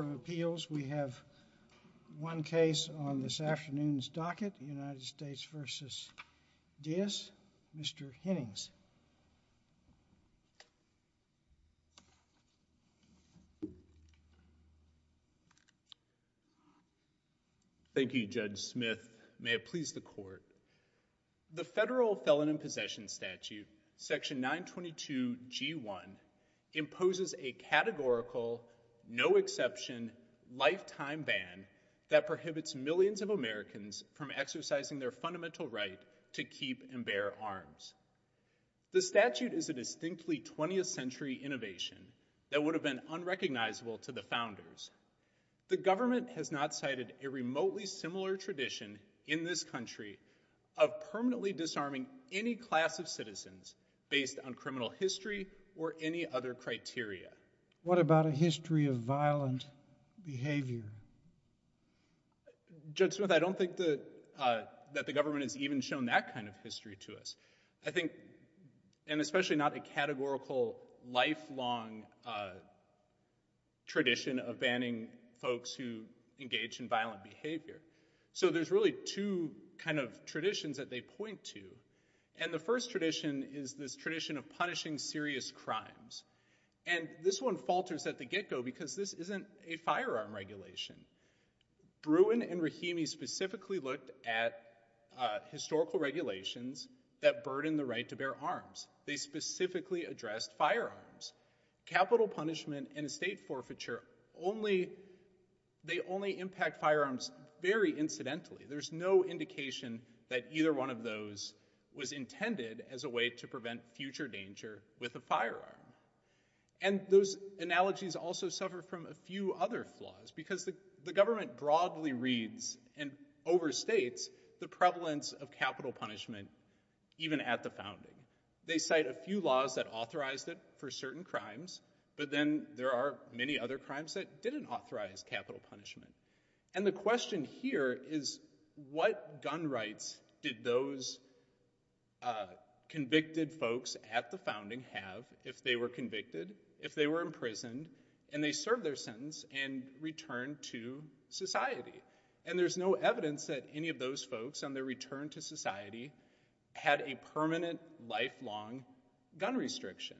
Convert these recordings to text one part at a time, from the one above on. Appeals, we have one case on this afternoon's docket, United States v. Diaz, Mr. Hennings. Thank you Judge Smith, may it please the court. The federal felon in possession statute, section 922 g1, imposes a categorical, no exception, lifetime ban that prohibits millions of Americans from exercising their fundamental right to keep and bear arms. The statute is a distinctly 20th century innovation that would have been unrecognizable to the founders. The government has not cited a remotely similar tradition in this country of permanently disarming any class of citizens based on criminal history or any other criteria. What about a history of violent behavior? Judge Smith, I don't think that the government has even shown that kind of history to us. I think, and especially not a categorical, lifelong tradition of banning folks who engage in violent behavior. So there's really two kind of traditions that they point to. And the first tradition is this tradition of punishing serious crimes. And this one falters at the get-go because this isn't a firearm regulation. Bruin and Rahimi specifically looked at historical regulations that burden the right to bear arms. They specifically addressed firearms. Capital punishment and estate forfeiture only, they only impact firearms very incidentally. There's no indication that either one of those was intended as a way to prevent future danger with a firearm. And those analogies also suffer from a few other flaws because the government broadly reads and overstates the prevalence of capital punishment even at the founding. They cite a few laws that authorized it for certain crimes, but then there are many other crimes that didn't authorize capital punishment. And the question here is what gun rights did those convicted folks at the founding have if they were convicted, if they were imprisoned, and they served their sentence and returned to society? And there's no evidence that any of those folks on their return to society had a permanent lifelong gun restriction.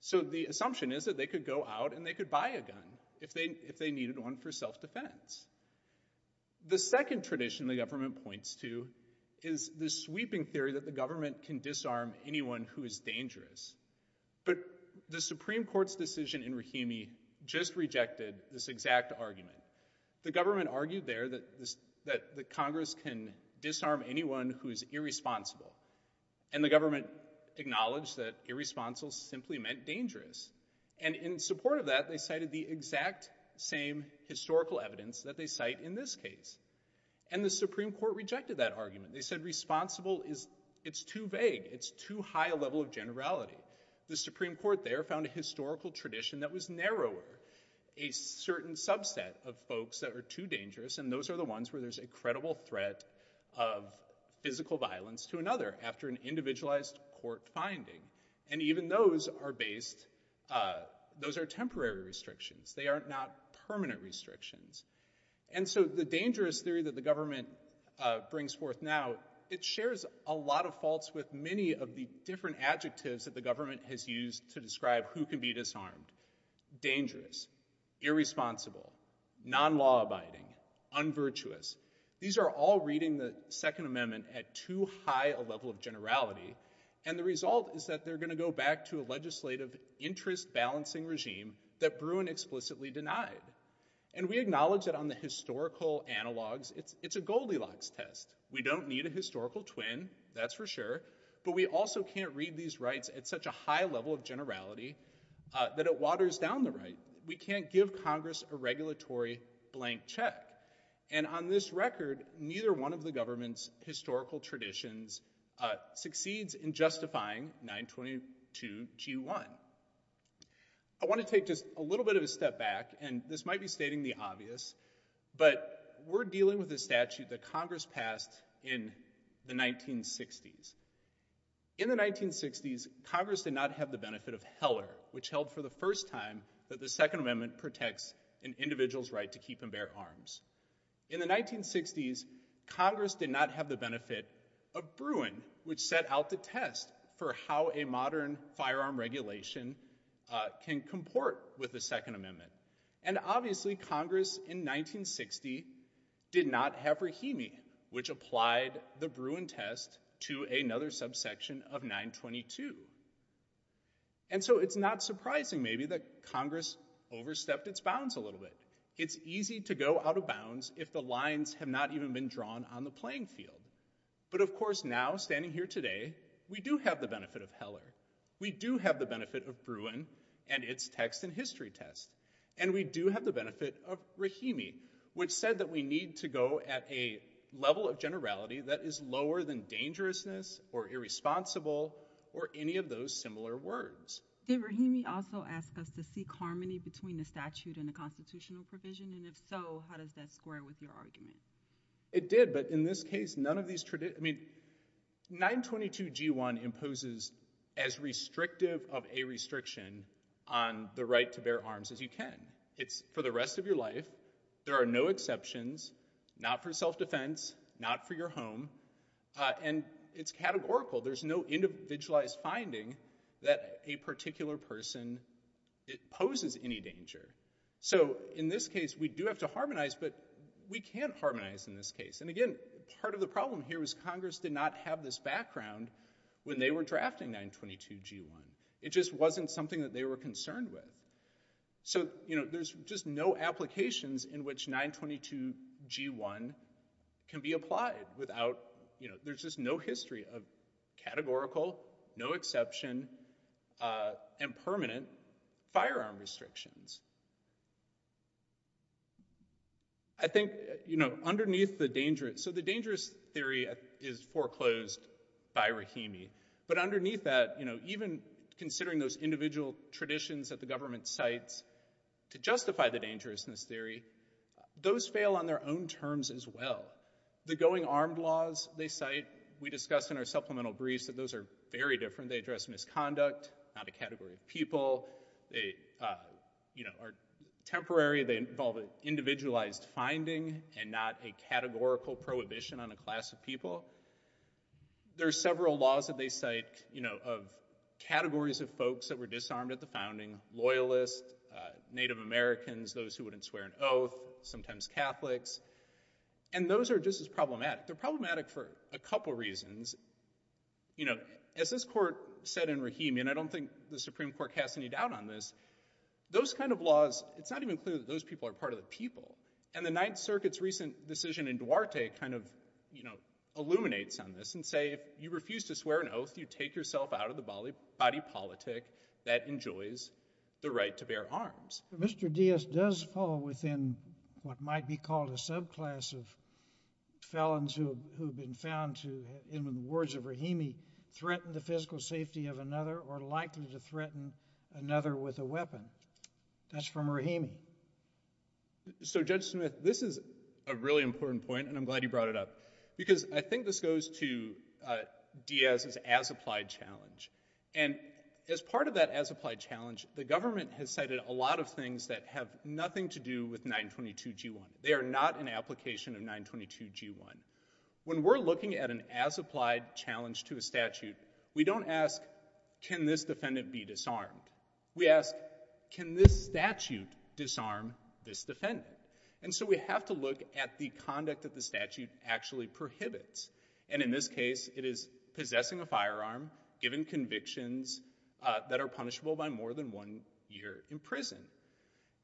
So the assumption is that they could go out and they could buy a gun if they needed one for self-defense. The second tradition the government points to is the sweeping theory that the government can disarm anyone who is dangerous. But the Supreme Court's decision in Rahimi just rejected this exact argument. The government argued there that this, that the Congress can disarm anyone who's irresponsible. And the government acknowledged that irresponsible simply meant dangerous. And in support of that, they cited the exact same historical evidence that they cite in this case. And the Supreme Court rejected that argument. They said responsible is, it's too vague. It's too high a level of generality. The Supreme Court there found a historical tradition that was narrower, a certain subset of folks that are too dangerous. And those are the ones where there's a credible threat of physical violence to another after an individualized court finding. And even those are based, those are temporary restrictions. They are not permanent restrictions. And so the dangerous theory that the government brings forth now, it shares a lot of faults with many of the different adjectives that the government has used to describe who can be disarmed. Dangerous, irresponsible, non-law abiding, unvirtuous. These are all reading the Second Amendment at too high a level of generality. And the result is that they're going to go back to a legislative interest balancing regime that Bruin explicitly denied. And we acknowledge that on the historical analogs, it's, it's a Goldilocks test. We don't need a historical twin, that's for sure. But we also can't read these rights at such a high level of generality, uh, that it waters down the right. We can't give Congress a regulatory blank check. And on this record, neither one of the government's historical traditions, uh, succeeds in justifying 922 G1. I want to take just a little bit of a step back, and this might be stating the obvious, but we're dealing with a statute that Congress passed in the 1960s. In the 1960s, Congress did not have the benefit of Heller, which held for the first time that the Second Amendment protects an individual's right to keep and bear arms. In the 1960s, Congress did not have the benefit of Bruin, which set out the test for how a modern firearm regulation, uh, can comport with the Second Amendment. And obviously, Congress in 1960 did not have Rahimi, which applied the Bruin test to another subsection of 922. And so it's not surprising, maybe, that Congress overstepped its bounds a little bit. It's easy to go out of bounds if the lines have not even been drawn on the playing field. But of course, now, standing here today, we do have the benefit of Heller. We do have the benefit of Bruin and its text and history test. And we do have the benefit of Rahimi, which said that we need to go at a level of generality that is lower than dangerousness or irresponsible or any of those similar words. Did Rahimi also ask us to seek harmony between the statute and the constitutional provision? And if so, how does that square with your argument? It did, but in this case, I mean, 922g1 imposes as restrictive of a restriction on the right to bear arms as you can. It's for the rest of your life. There are no exceptions, not for self-defense, not for your home. And it's categorical. There's no individualized finding that a particular person, it poses any danger. So in this case, we do have to harmonize, but we can't harmonize in this case. And again, part of the problem here was Congress did not have this background when they were drafting 922g1. It just wasn't something that they were concerned with. So, you know, there's just no applications in which 922g1 can be applied without, you know, there's just no history of categorical, no exception, and permanent firearm restrictions. I think, you know, underneath the dangerous, so the dangerous theory is foreclosed by Rahimi, but underneath that, you know, even considering those individual traditions that the government cites to justify the dangerousness theory, those fail on their own terms as well. The going armed laws they cite, we discussed in our supplemental briefs that those are very different. They address misconduct, not a category of people. They, uh, they address the issue of, you know, are temporary. They involve an individualized finding and not a categorical prohibition on a class of people. There are several laws that they cite, you know, of categories of folks that were disarmed at the founding, loyalists, Native Americans, those who wouldn't swear an oath, sometimes Catholics, and those are just as problematic. They're problematic for a couple reasons. You know, as this court said in Rahimi, and I don't think the Supreme Court has any doubt on this, those kind of laws, it's not even clear that those people are part of the people, and the Ninth Circuit's recent decision in Duarte kind of, you know, illuminates on this and say if you refuse to swear an oath, you take yourself out of the body politic that enjoys the right to bear arms. Mr. Diaz does fall within what might be called a subclass of felons who have been found to, in the words of Rahimi, threaten the physical safety of another or likely to threaten another with a weapon. That's from Rahimi. So Judge Smith, this is a really important point, and I'm glad you brought it up, because I think this goes to Diaz's as-applied challenge, and as part of that as-applied challenge, the government has cited a lot of things that have nothing to do with 922g1. They are not an application of 922g1. When we're looking at an as-applied challenge to a statute, we don't ask, can this defendant be disarmed? We ask, can this statute disarm this defendant? And so we have to look at the conduct that the statute actually prohibits, and in this case, it is possessing a firearm, given convictions that are punishable by more than one year in prison.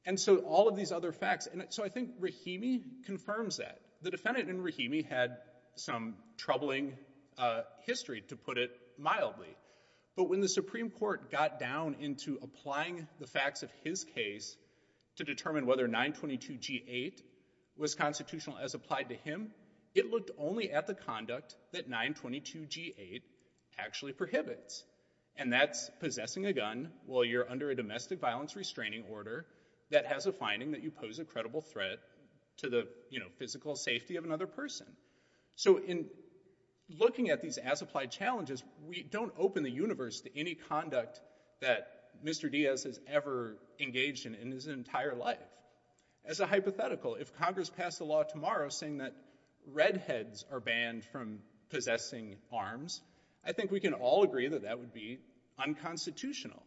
And so all of these other facts, and so I think Rahimi confirms that. The defendant in Rahimi had some troubling history, to put it mildly. But when the Supreme Court got down into applying the facts of his case to determine whether 922g8 was constitutional as applied to him, it looked only at the conduct that 922g8 actually prohibits, and that's possessing a gun while you're under a domestic violence restraining order that has a finding that you pose a credible threat to the, you know, physical safety of another person. So in looking at these as-applied challenges, we don't open the universe to any conduct that Mr. Diaz has ever engaged in in his entire life. As a hypothetical, if Congress passed a law tomorrow saying that redheads are banned from possessing arms, I think we can all agree that that would be unconstitutional.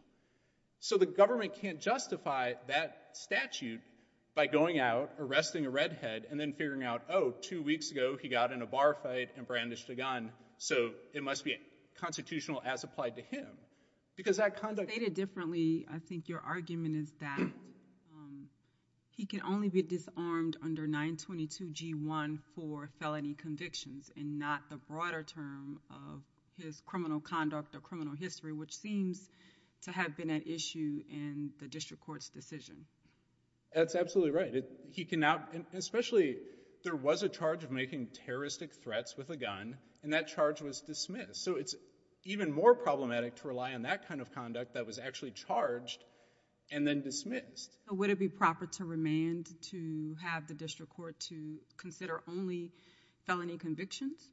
So the government can't justify that statute by going out, arresting a redhead, and then figuring out, oh, two weeks ago, he got in a bar fight and brandished a gun, so it must be constitutional as applied to him, because that conduct- Stated differently, I think your argument is that he can only be disarmed under 922g1 for felony convictions and not the broader term of his criminal conduct or criminal history, which seems to have been an issue in the district court's decision. That's absolutely right. He cannot, especially, there was a charge of making terroristic threats with a gun, and that charge was dismissed. So it's even more problematic to rely on that kind of conduct that was actually charged and then dismissed. Would it be proper to remand to have the district court to consider only felony convictions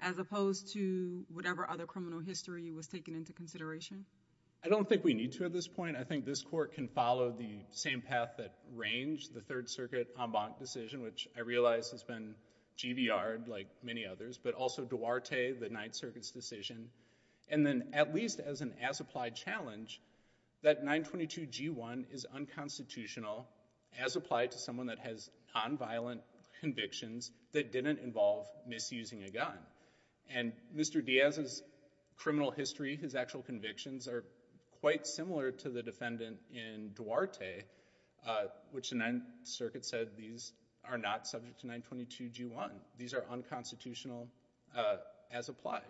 as opposed to whatever other criminal history was taken into consideration? I don't think we need to at this point. I think this court can follow the same path that Range, the Third Circuit en banc decision, which I realize has been GVR'd like many others, but also Duarte, the Ninth Circuit's decision, and then at least as an as-applied challenge, that 922g1 is unconstitutional as applied to someone that has non-violent convictions that didn't involve misusing a gun. And Mr. Diaz's criminal history, his actual convictions are quite similar to the defendant in Duarte, which the Ninth Circuit said these are not subject to 922g1. These are unconstitutional as applied.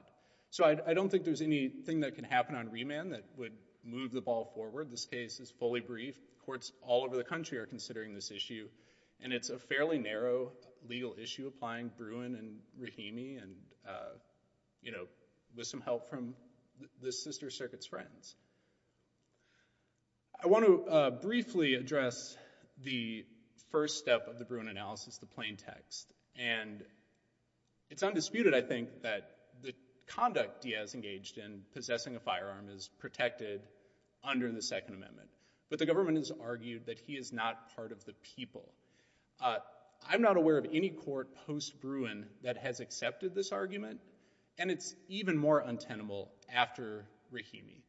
So I don't think there's anything that can happen on remand that would move the ball forward. This case is fully brief. Courts all over the country are considering this issue, and it's a fairly narrow legal issue applying Bruin and Rahimi and, you know, with some help from the Sister Circuit's friends. I want to briefly address the first step of the Bruin analysis, the plain text. And it's undisputed, I think, that the conduct Diaz engaged in possessing a firearm is protected under the Second Amendment, but the government has argued that he is not part of the people. I'm not aware of any court post-Bruin that has accepted this argument, and it's even more untenable after Rahimi,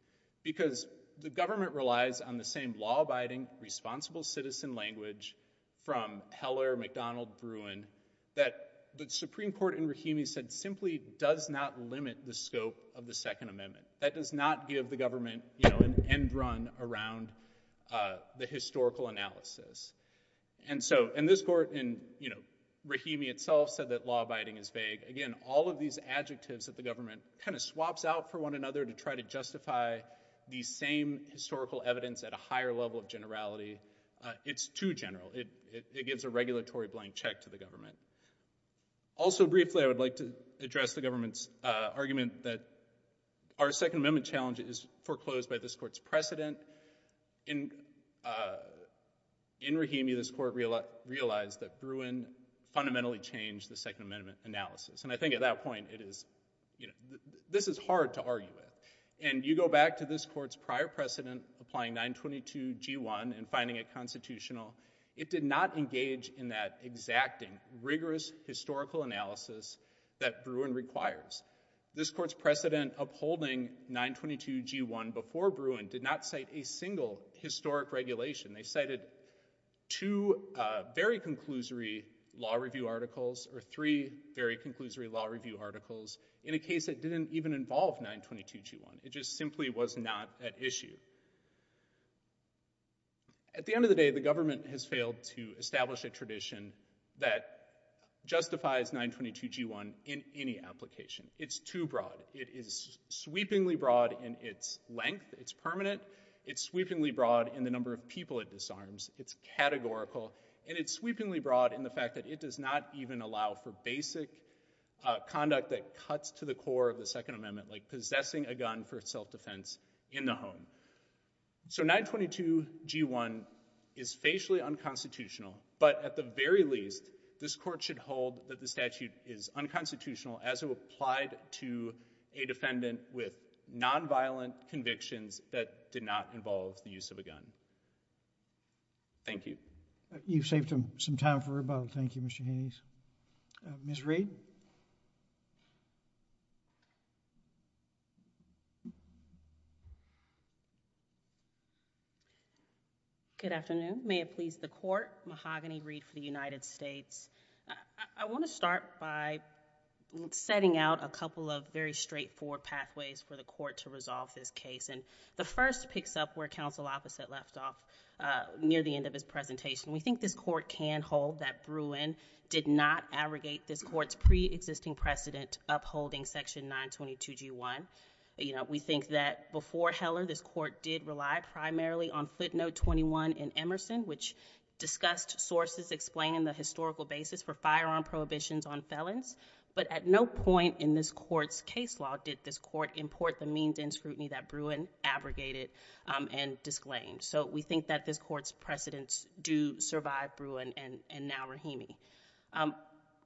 because the government relies on the same law-abiding, responsible citizen language from Heller, McDonald, Bruin that the Supreme Court in Rahimi said simply does not limit the scope of the Second Amendment. That does not give the government, you know, an end run around the historical analysis. And so, and this court in, you know, Rahimi itself said that law-abiding is vague. Again, all of these adjectives that the government kind of swaps out for one another to try to justify the same historical evidence at a higher level of generality, it's too general. It gives a regulatory blank check to the government. Also, briefly, I would like to address the government's argument that our Second Amendment challenge is foreclosed by this court's precedent. In Rahimi, this court realized that Bruin fundamentally changed the Second Amendment analysis. And I think at that point, it is, you know, this is hard to argue with. And you go back to this court's prior precedent, applying 922g1 and finding it constitutional. It did not engage in that exacting, rigorous historical analysis that Bruin requires. This court's precedent upholding 922g1 before Bruin did not cite a single historic regulation. They cited two very conclusory law review articles, or three very conclusory law review articles in a case that didn't even involve 922g1. It just was not at issue. At the end of the day, the government has failed to establish a tradition that justifies 922g1 in any application. It's too broad. It is sweepingly broad in its length, it's permanent, it's sweepingly broad in the number of people it disarms, it's categorical, and it's sweepingly broad in the fact that it does not even allow for basic conduct that cuts to the core of the Second Amendment, like possessing a gun for self-defense in the home. So 922g1 is facially unconstitutional, but at the very least, this court should hold that the statute is unconstitutional as it applied to a defendant with non-violent convictions that did not involve the use of a gun. Thank you. You've saved him some time for rebuttal. Thank you, Mr. Hayes. Ms. Reed? Good afternoon. May it please the Court. Mahogany Reed for the United States. I want to start by setting out a couple of very straightforward pathways for the Court to resolve this case, and the first picks up where Counsel Opposite left off near the end of his presentation. We think this Court can hold that Bruin did not abrogate this Court's pre-existing precedent upholding section 922g1. You know, we think that before Heller, this Court did rely primarily on footnote 21 in Emerson, which discussed sources explaining the historical basis for firearm prohibitions on felons, but at no point in this Court's case law did this Court import the means and scrutiny that Bruin abrogated and disclaimed. So we think that this Court's precedents do survive Bruin and now Rahimi.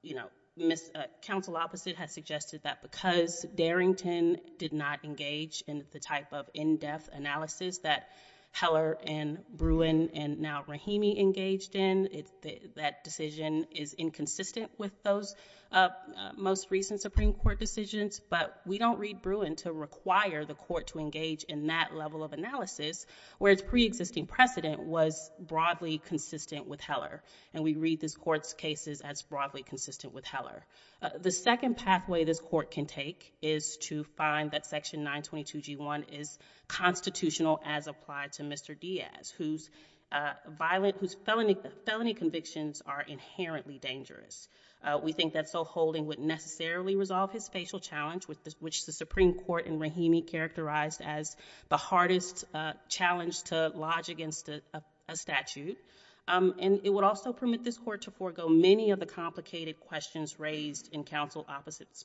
You know, Counsel Opposite has suggested that because Darrington did not engage in the type of in-depth analysis that Heller and Bruin and now Rahimi engaged in, that decision is inconsistent with those most recent Supreme Court decisions, but we don't read Bruin to require the Court to engage in that level of analysis, whereas its pre-existing precedent was broadly consistent with Heller, and we read this Court's cases as broadly consistent with Heller. The second pathway this Court can take is to find that section 922g1 is constitutional as applied to Mr. Diaz, whose felony convictions are inherently dangerous. We think that so holding would necessarily resolve his facial challenge, which the Supreme Court and Rahimi characterized as the hardest challenge to lodge against a statute, and it would also permit this Court to forego many of the complicated questions raised in Counsel Opposite's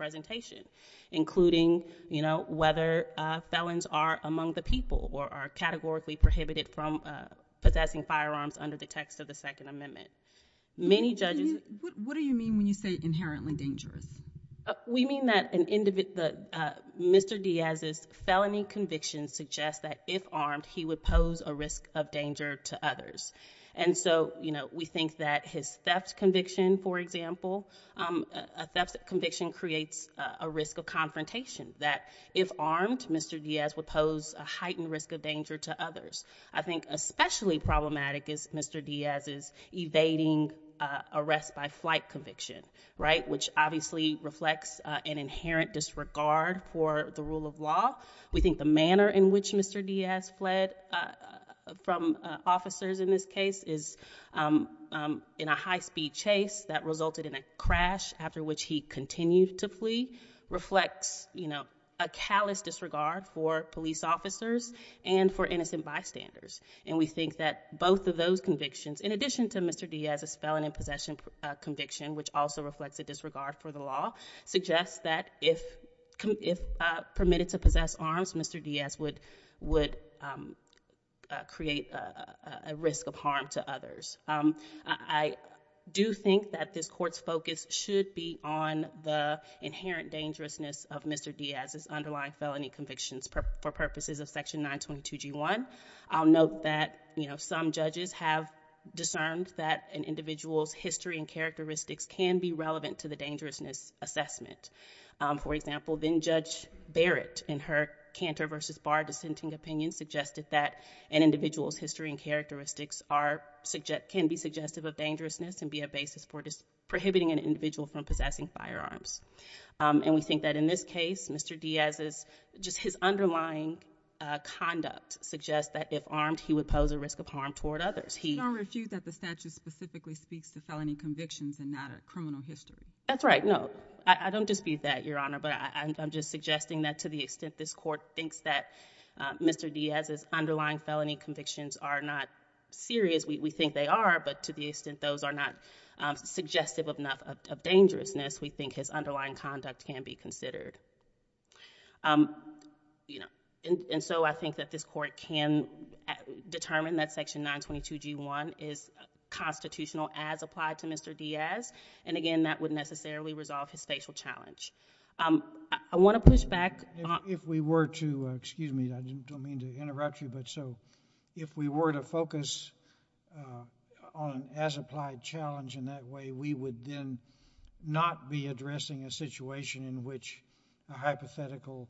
presentation, including, you know, whether felons are among the people or are categorically prohibited from possessing firearms under the text of the Second Amendment. Many judges— What do you mean when you say inherently dangerous? We mean that Mr. Diaz's felony convictions suggest that if armed, he would pose a risk of danger to others, and so, you know, we think that his theft conviction, for example, a theft conviction creates a risk of confrontation, that if armed, Mr. Diaz would pose a heightened risk of danger to others. I think especially problematic is Mr. Diaz's evading arrest by conviction, right, which obviously reflects an inherent disregard for the rule of law. We think the manner in which Mr. Diaz fled from officers in this case is in a high-speed chase that resulted in a crash after which he continued to flee reflects, you know, a callous disregard for police officers and for innocent bystanders, and we think that both of those convictions, in addition to Mr. Diaz's felony possession conviction, which also reflects a disregard for the law, suggests that if permitted to possess arms, Mr. Diaz would create a risk of harm to others. I do think that this Court's focus should be on the inherent dangerousness of Mr. Diaz's underlying felony convictions for purposes of Section 922g1. I'll note that, you know, some have discerned that an individual's history and characteristics can be relevant to the dangerousness assessment. For example, then Judge Barrett, in her Cantor v. Barr dissenting opinion, suggested that an individual's history and characteristics are—can be suggestive of dangerousness and be a basis for prohibiting an individual from possessing firearms, and we think that in this case, Mr. Diaz's—just his underlying conduct suggests that if armed, he would pose a risk of harm toward others. He— You don't refute that the statute specifically speaks to felony convictions and not a criminal history. That's right. No, I don't dispute that, Your Honor, but I'm just suggesting that to the extent this Court thinks that Mr. Diaz's underlying felony convictions are not serious, we think they are, but to the extent those are not suggestive enough of dangerousness, we think his underlying conduct can be considered, you know, and so I think that this Court can determine that Section 922g1 is constitutional as applied to Mr. Diaz, and again, that would necessarily resolve his facial challenge. I want to push back— If we were to—excuse me, I don't mean to interrupt you, but so if we were to focus on an as-applied challenge in that way, we would then not be addressing a situation in which a hypothetical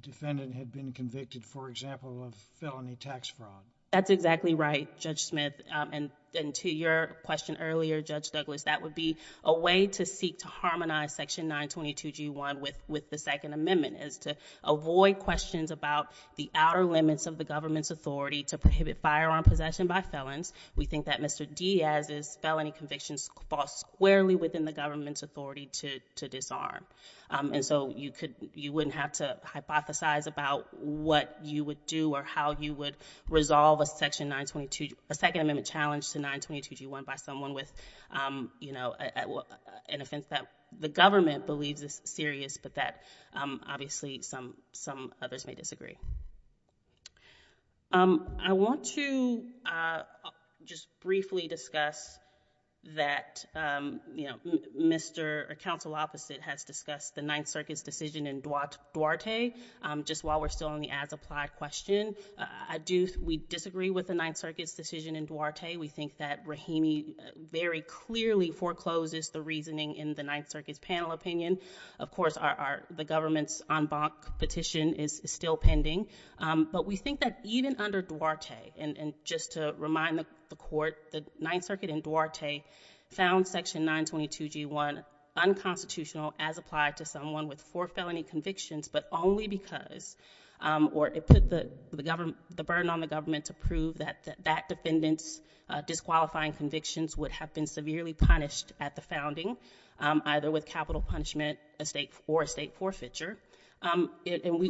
defendant had been convicted, for example, of felony tax fraud. That's exactly right, Judge Smith, and to your question earlier, Judge Douglas, that would be a way to seek to harmonize Section 922g1 with the Second Amendment is to avoid questions about the outer limits of the government's authority to prohibit firearm possession by felons. We think that Mr. Diaz's felony convictions fall squarely within the government's authority to disarm, and so you wouldn't have to hypothesize about what you would do or how you would resolve a Second Amendment challenge to 922g1 by someone with, you know, an offense that the government believes is serious, but that obviously some others may disagree. I want to just briefly discuss that, you know, Mr. or counsel opposite has discussed the Ninth Circuit's decision in Duarte, just while we're still on the as-applied question. We disagree with the Ninth Circuit's decision in Duarte. We think that Rahimi very clearly forecloses the reasoning in the Ninth Circuit's panel opinion. Of course, the government's en banc petition is still pending, but we think that even under Duarte, and just to remind the Court, the Ninth Circuit in Duarte found Section 922g1 unconstitutional as applied to someone with four felony convictions, but only because, or it put the burden on the government to prove that that defendant's disqualifying convictions would have been severely punished at the founding, either with capital punishment or a state forfeiture, and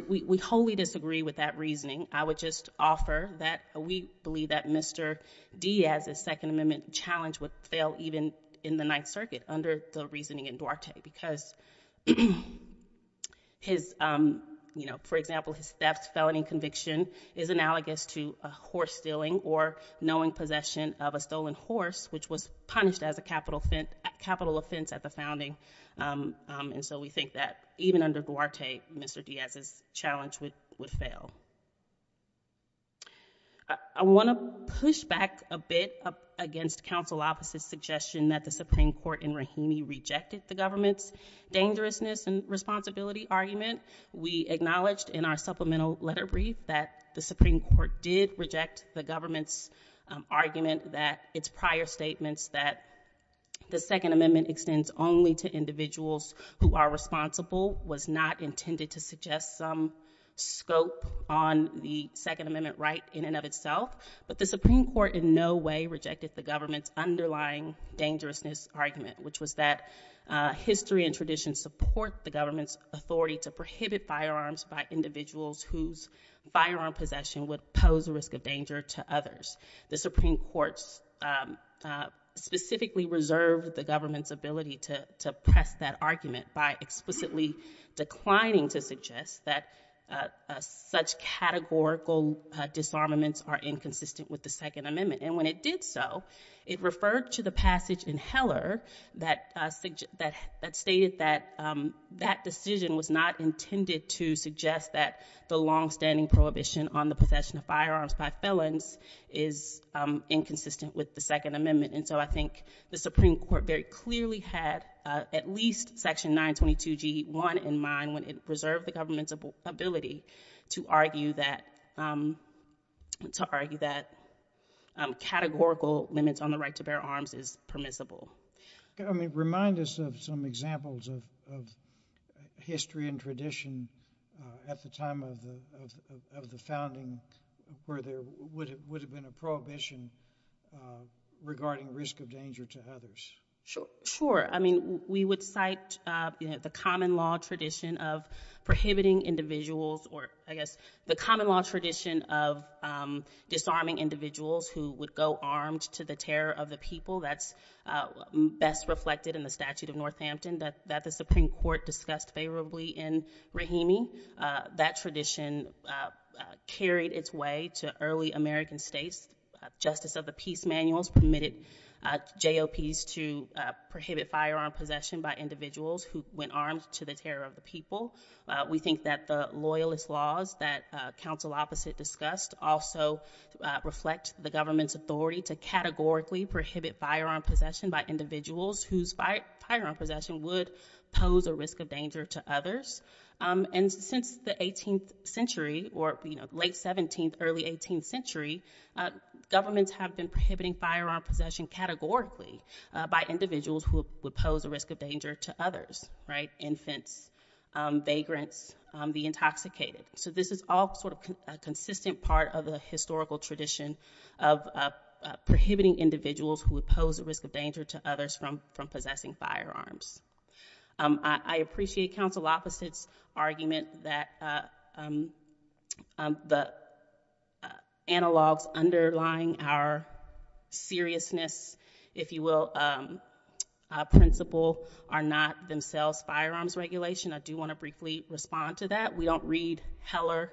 we wholly disagree with that reasoning. I would just offer that we believe that Mr. Diaz's Second Amendment challenge would fail even in the Ninth Circuit under the reasoning in Duarte, because his, you know, for example, theft felony conviction is analogous to a horse stealing or knowing possession of a stolen horse, which was punished as a capital offense at the founding, and so we think that even under Duarte, Mr. Diaz's challenge would fail. I want to push back a bit against counsel officer's suggestion that the Supreme Court in Rahimi rejected the government's dangerousness and responsibility argument. We acknowledged in our supplemental letter brief that the Supreme Court did reject the government's argument that its prior statements that the Second Amendment extends only to individuals who are responsible was not intended to suggest some scope on the Second Amendment right in and of itself, but the Supreme Court in no way rejected the government's underlying dangerousness argument, which was that history and tradition support the government's authority to prohibit firearms by individuals whose firearm possession would pose a risk of danger to others. The Supreme Court specifically reserved the government's ability to press that argument by explicitly declining to suggest that such categorical disarmaments are inconsistent with the Second Amendment, and when it did so, it referred to the passage in Heller that stated that that decision was not intended to suggest that the long-standing prohibition on the possession of firearms by felons is inconsistent with the Second Amendment, and so I think the Supreme Court very clearly had at least Section 922G1 in mind when it reserved the government's ability to argue that categorical limits on the right to bear arms is permissible. I mean, remind us of some examples of history and tradition at the time of the founding where there would have been a prohibition regarding risk of danger to others. Sure, I mean, we would cite the common law tradition of prohibiting individuals or, I guess, the common law tradition of disarming individuals who would go armed to the terror of the people. That's best reflected in the statute of Northampton that the Supreme Court discussed favorably in Rahimi. That tradition carried its way to early American states. Justice of the Peace Manuals permitted JOPs to prohibit firearm possession by individuals who went armed to the terror of the people. We think that the loyalist laws that counsel opposite discussed also reflect the government's authority to categorically prohibit firearm possession by individuals whose firearm possession would pose a risk of danger to others, and since the 18th century or, you know, late 17th, early 18th century, governments have been prohibiting firearm possession categorically by individuals who would pose a risk of danger to others, right? Infants, vagrants, the intoxicated. So this is all sort of a consistent part of the historical tradition of prohibiting individuals who would pose a risk of danger to others from possessing firearms. I appreciate counsel opposite's argument that the analogs underlying our seriousness, if you will, principle are not themselves firearms regulation. I do want to briefly respond to that. We don't read Heller,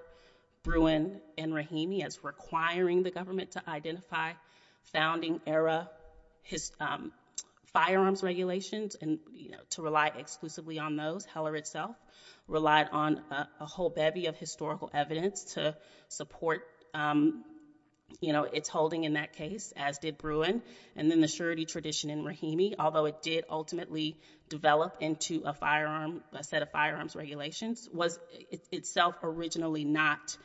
Bruin, and Rahimi as requiring the government to founding era firearms regulations and, you know, to rely exclusively on those. Heller itself relied on a whole bevy of historical evidence to support, you know, its holding in that case, as did Bruin, and then the surety tradition in Rahimi, although it did ultimately develop into a set of firearms regulations, was itself originally not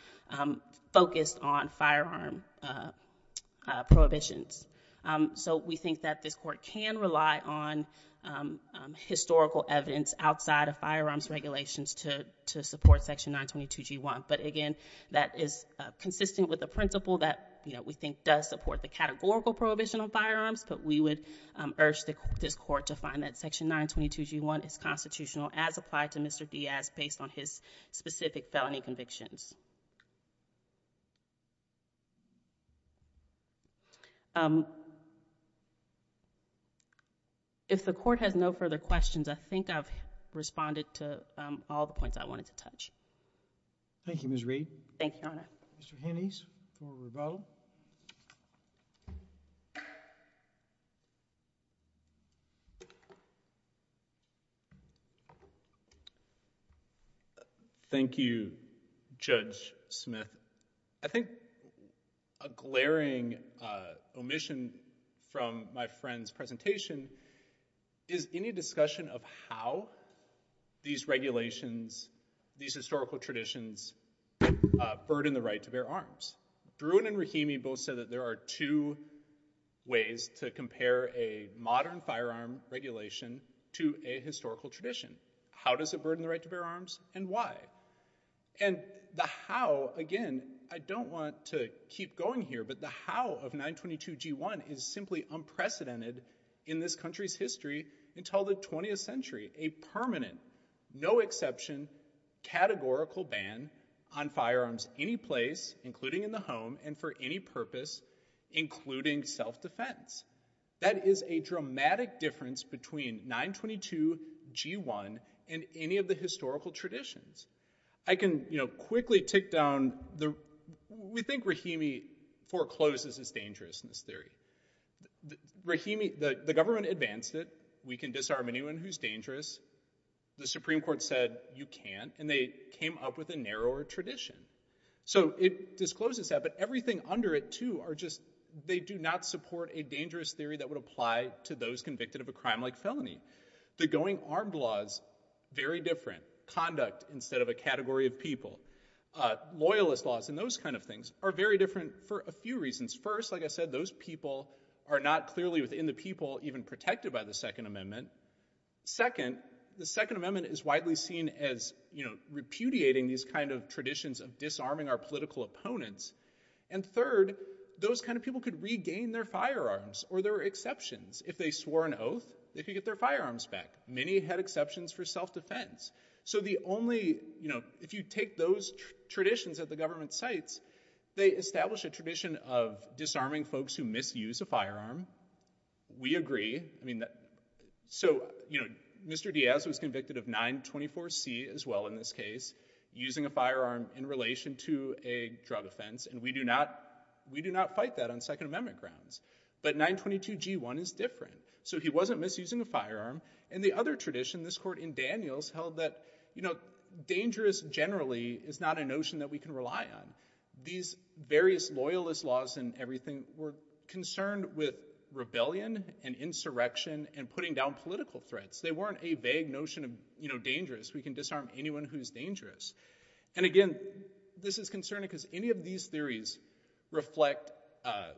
focused on firearm prohibitions. So we think that this court can rely on historical evidence outside of firearms regulations to support section 922G1, but again, that is consistent with the principle that, you know, we think does support the categorical prohibition of firearms, but we would urge this court to find that section 922G1 is constitutional as applied to Mr. Diaz based on his specific felony convictions. If the court has no further questions, I think I've responded to all the points I wanted to touch. Thank you, Ms. Reed. Thank you, Your Honor. Mr. Hinnies for rebuttal. Thank you, Judge Smith. I think a glaring omission from my friend's presentation is any discussion of how these regulations, these historical traditions, uh, burden the right to bear arms. Bruin and Rahimi both said that there are two ways to compare a modern firearm regulation to a historical tradition. How does it burden the right to bear arms and why? And the how, again, I don't want to keep going here, but the how of 922G1 is simply unprecedented in this country's history until the 20th century. A permanent, no exception, categorical ban on firearms any place, including in the home and for any purpose, including self-defense. That is a dramatic difference between 922G1 and any of the historical traditions. I can, you know, quickly take down the, we think Rahimi forecloses it's dangerous in this theory. Rahimi, the, the government advanced it. We can disarm anyone who's dangerous. The Supreme Court said you can't, and they came up with a narrower tradition. So it discloses that, but everything under it too are just, they do not support a dangerous theory that would apply to those convicted of a crime like felony. The going armed laws, very different conduct instead of a category of people, uh, loyalist laws and those kinds of things are very different for a few reasons. First, like I said, those people are not clearly within the people even protected by the second amendment. Second, the second amendment is widely seen as, you know, repudiating these kinds of traditions of disarming our political opponents. And third, those kinds of people could regain their firearms or there were exceptions. If they swore an oath, they could get their firearms back. Many had exceptions for self-defense. So the only, you know, if you take those traditions at the government sites, they establish a tradition of disarming folks who misuse a firearm. We agree. I mean, so, you know, Mr. Diaz was convicted of 924C as well in this case, using a firearm in relation to a drug offense. And we do not, we do not fight that on second amendment grounds, but 922G1 is different. So he wasn't misusing a firearm. And the other tradition, this court in Daniels held that, you know, dangerous generally is not a notion that we can rely on. These various loyalist laws and everything were concerned with rebellion and insurrection and putting down political threats. They weren't a vague notion of, you know, dangerous. We can disarm anyone who's dangerous. And again, this is concerning because any of these theories reflect uh,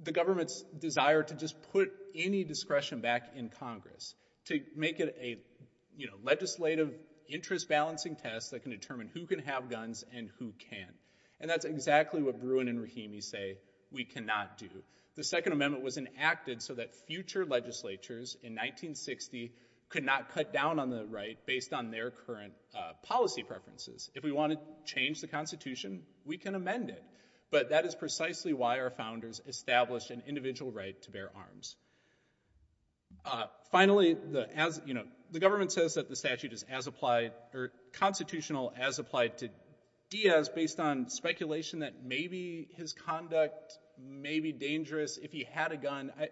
the government's desire to just put any discretion back in Congress. To make it a, you know, legislative interest balancing test that can determine who can have guns and who can't. And that's exactly what Bruin and Rahimi say we cannot do. The second amendment was enacted so that future legislatures in 1960 could not cut down on the right based on their current policy preferences. If we want to change the constitution, we can amend it. But that is precisely why our founders established an individual right to bear arms. Uh, finally, the as, you know, the government says that the statute is as applied or constitutional as applied to Diaz based on speculation that maybe his conduct may be dangerous if he had a gun. I,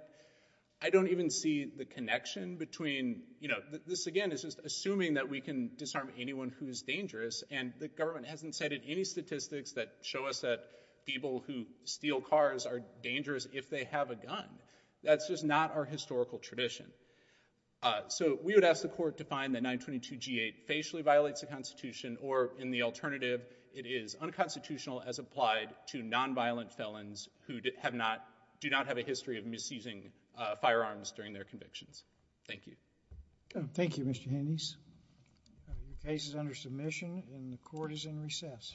I don't even see the connection between, you know, this again is just assuming that we can disarm anyone who's dangerous and the government hasn't cited any statistics that show us that people who steal cars are dangerous if they have a gun. That's just not our historical tradition. Uh, so we would ask the court to find the 922 G8 facially violates the constitution or in the alternative, it is unconstitutional as applied to nonviolent felons who have not, do not have a history of misusing firearms during their convictions. Thank you. Thank you, Mr. Handys. The case is under submission and the court is in recess.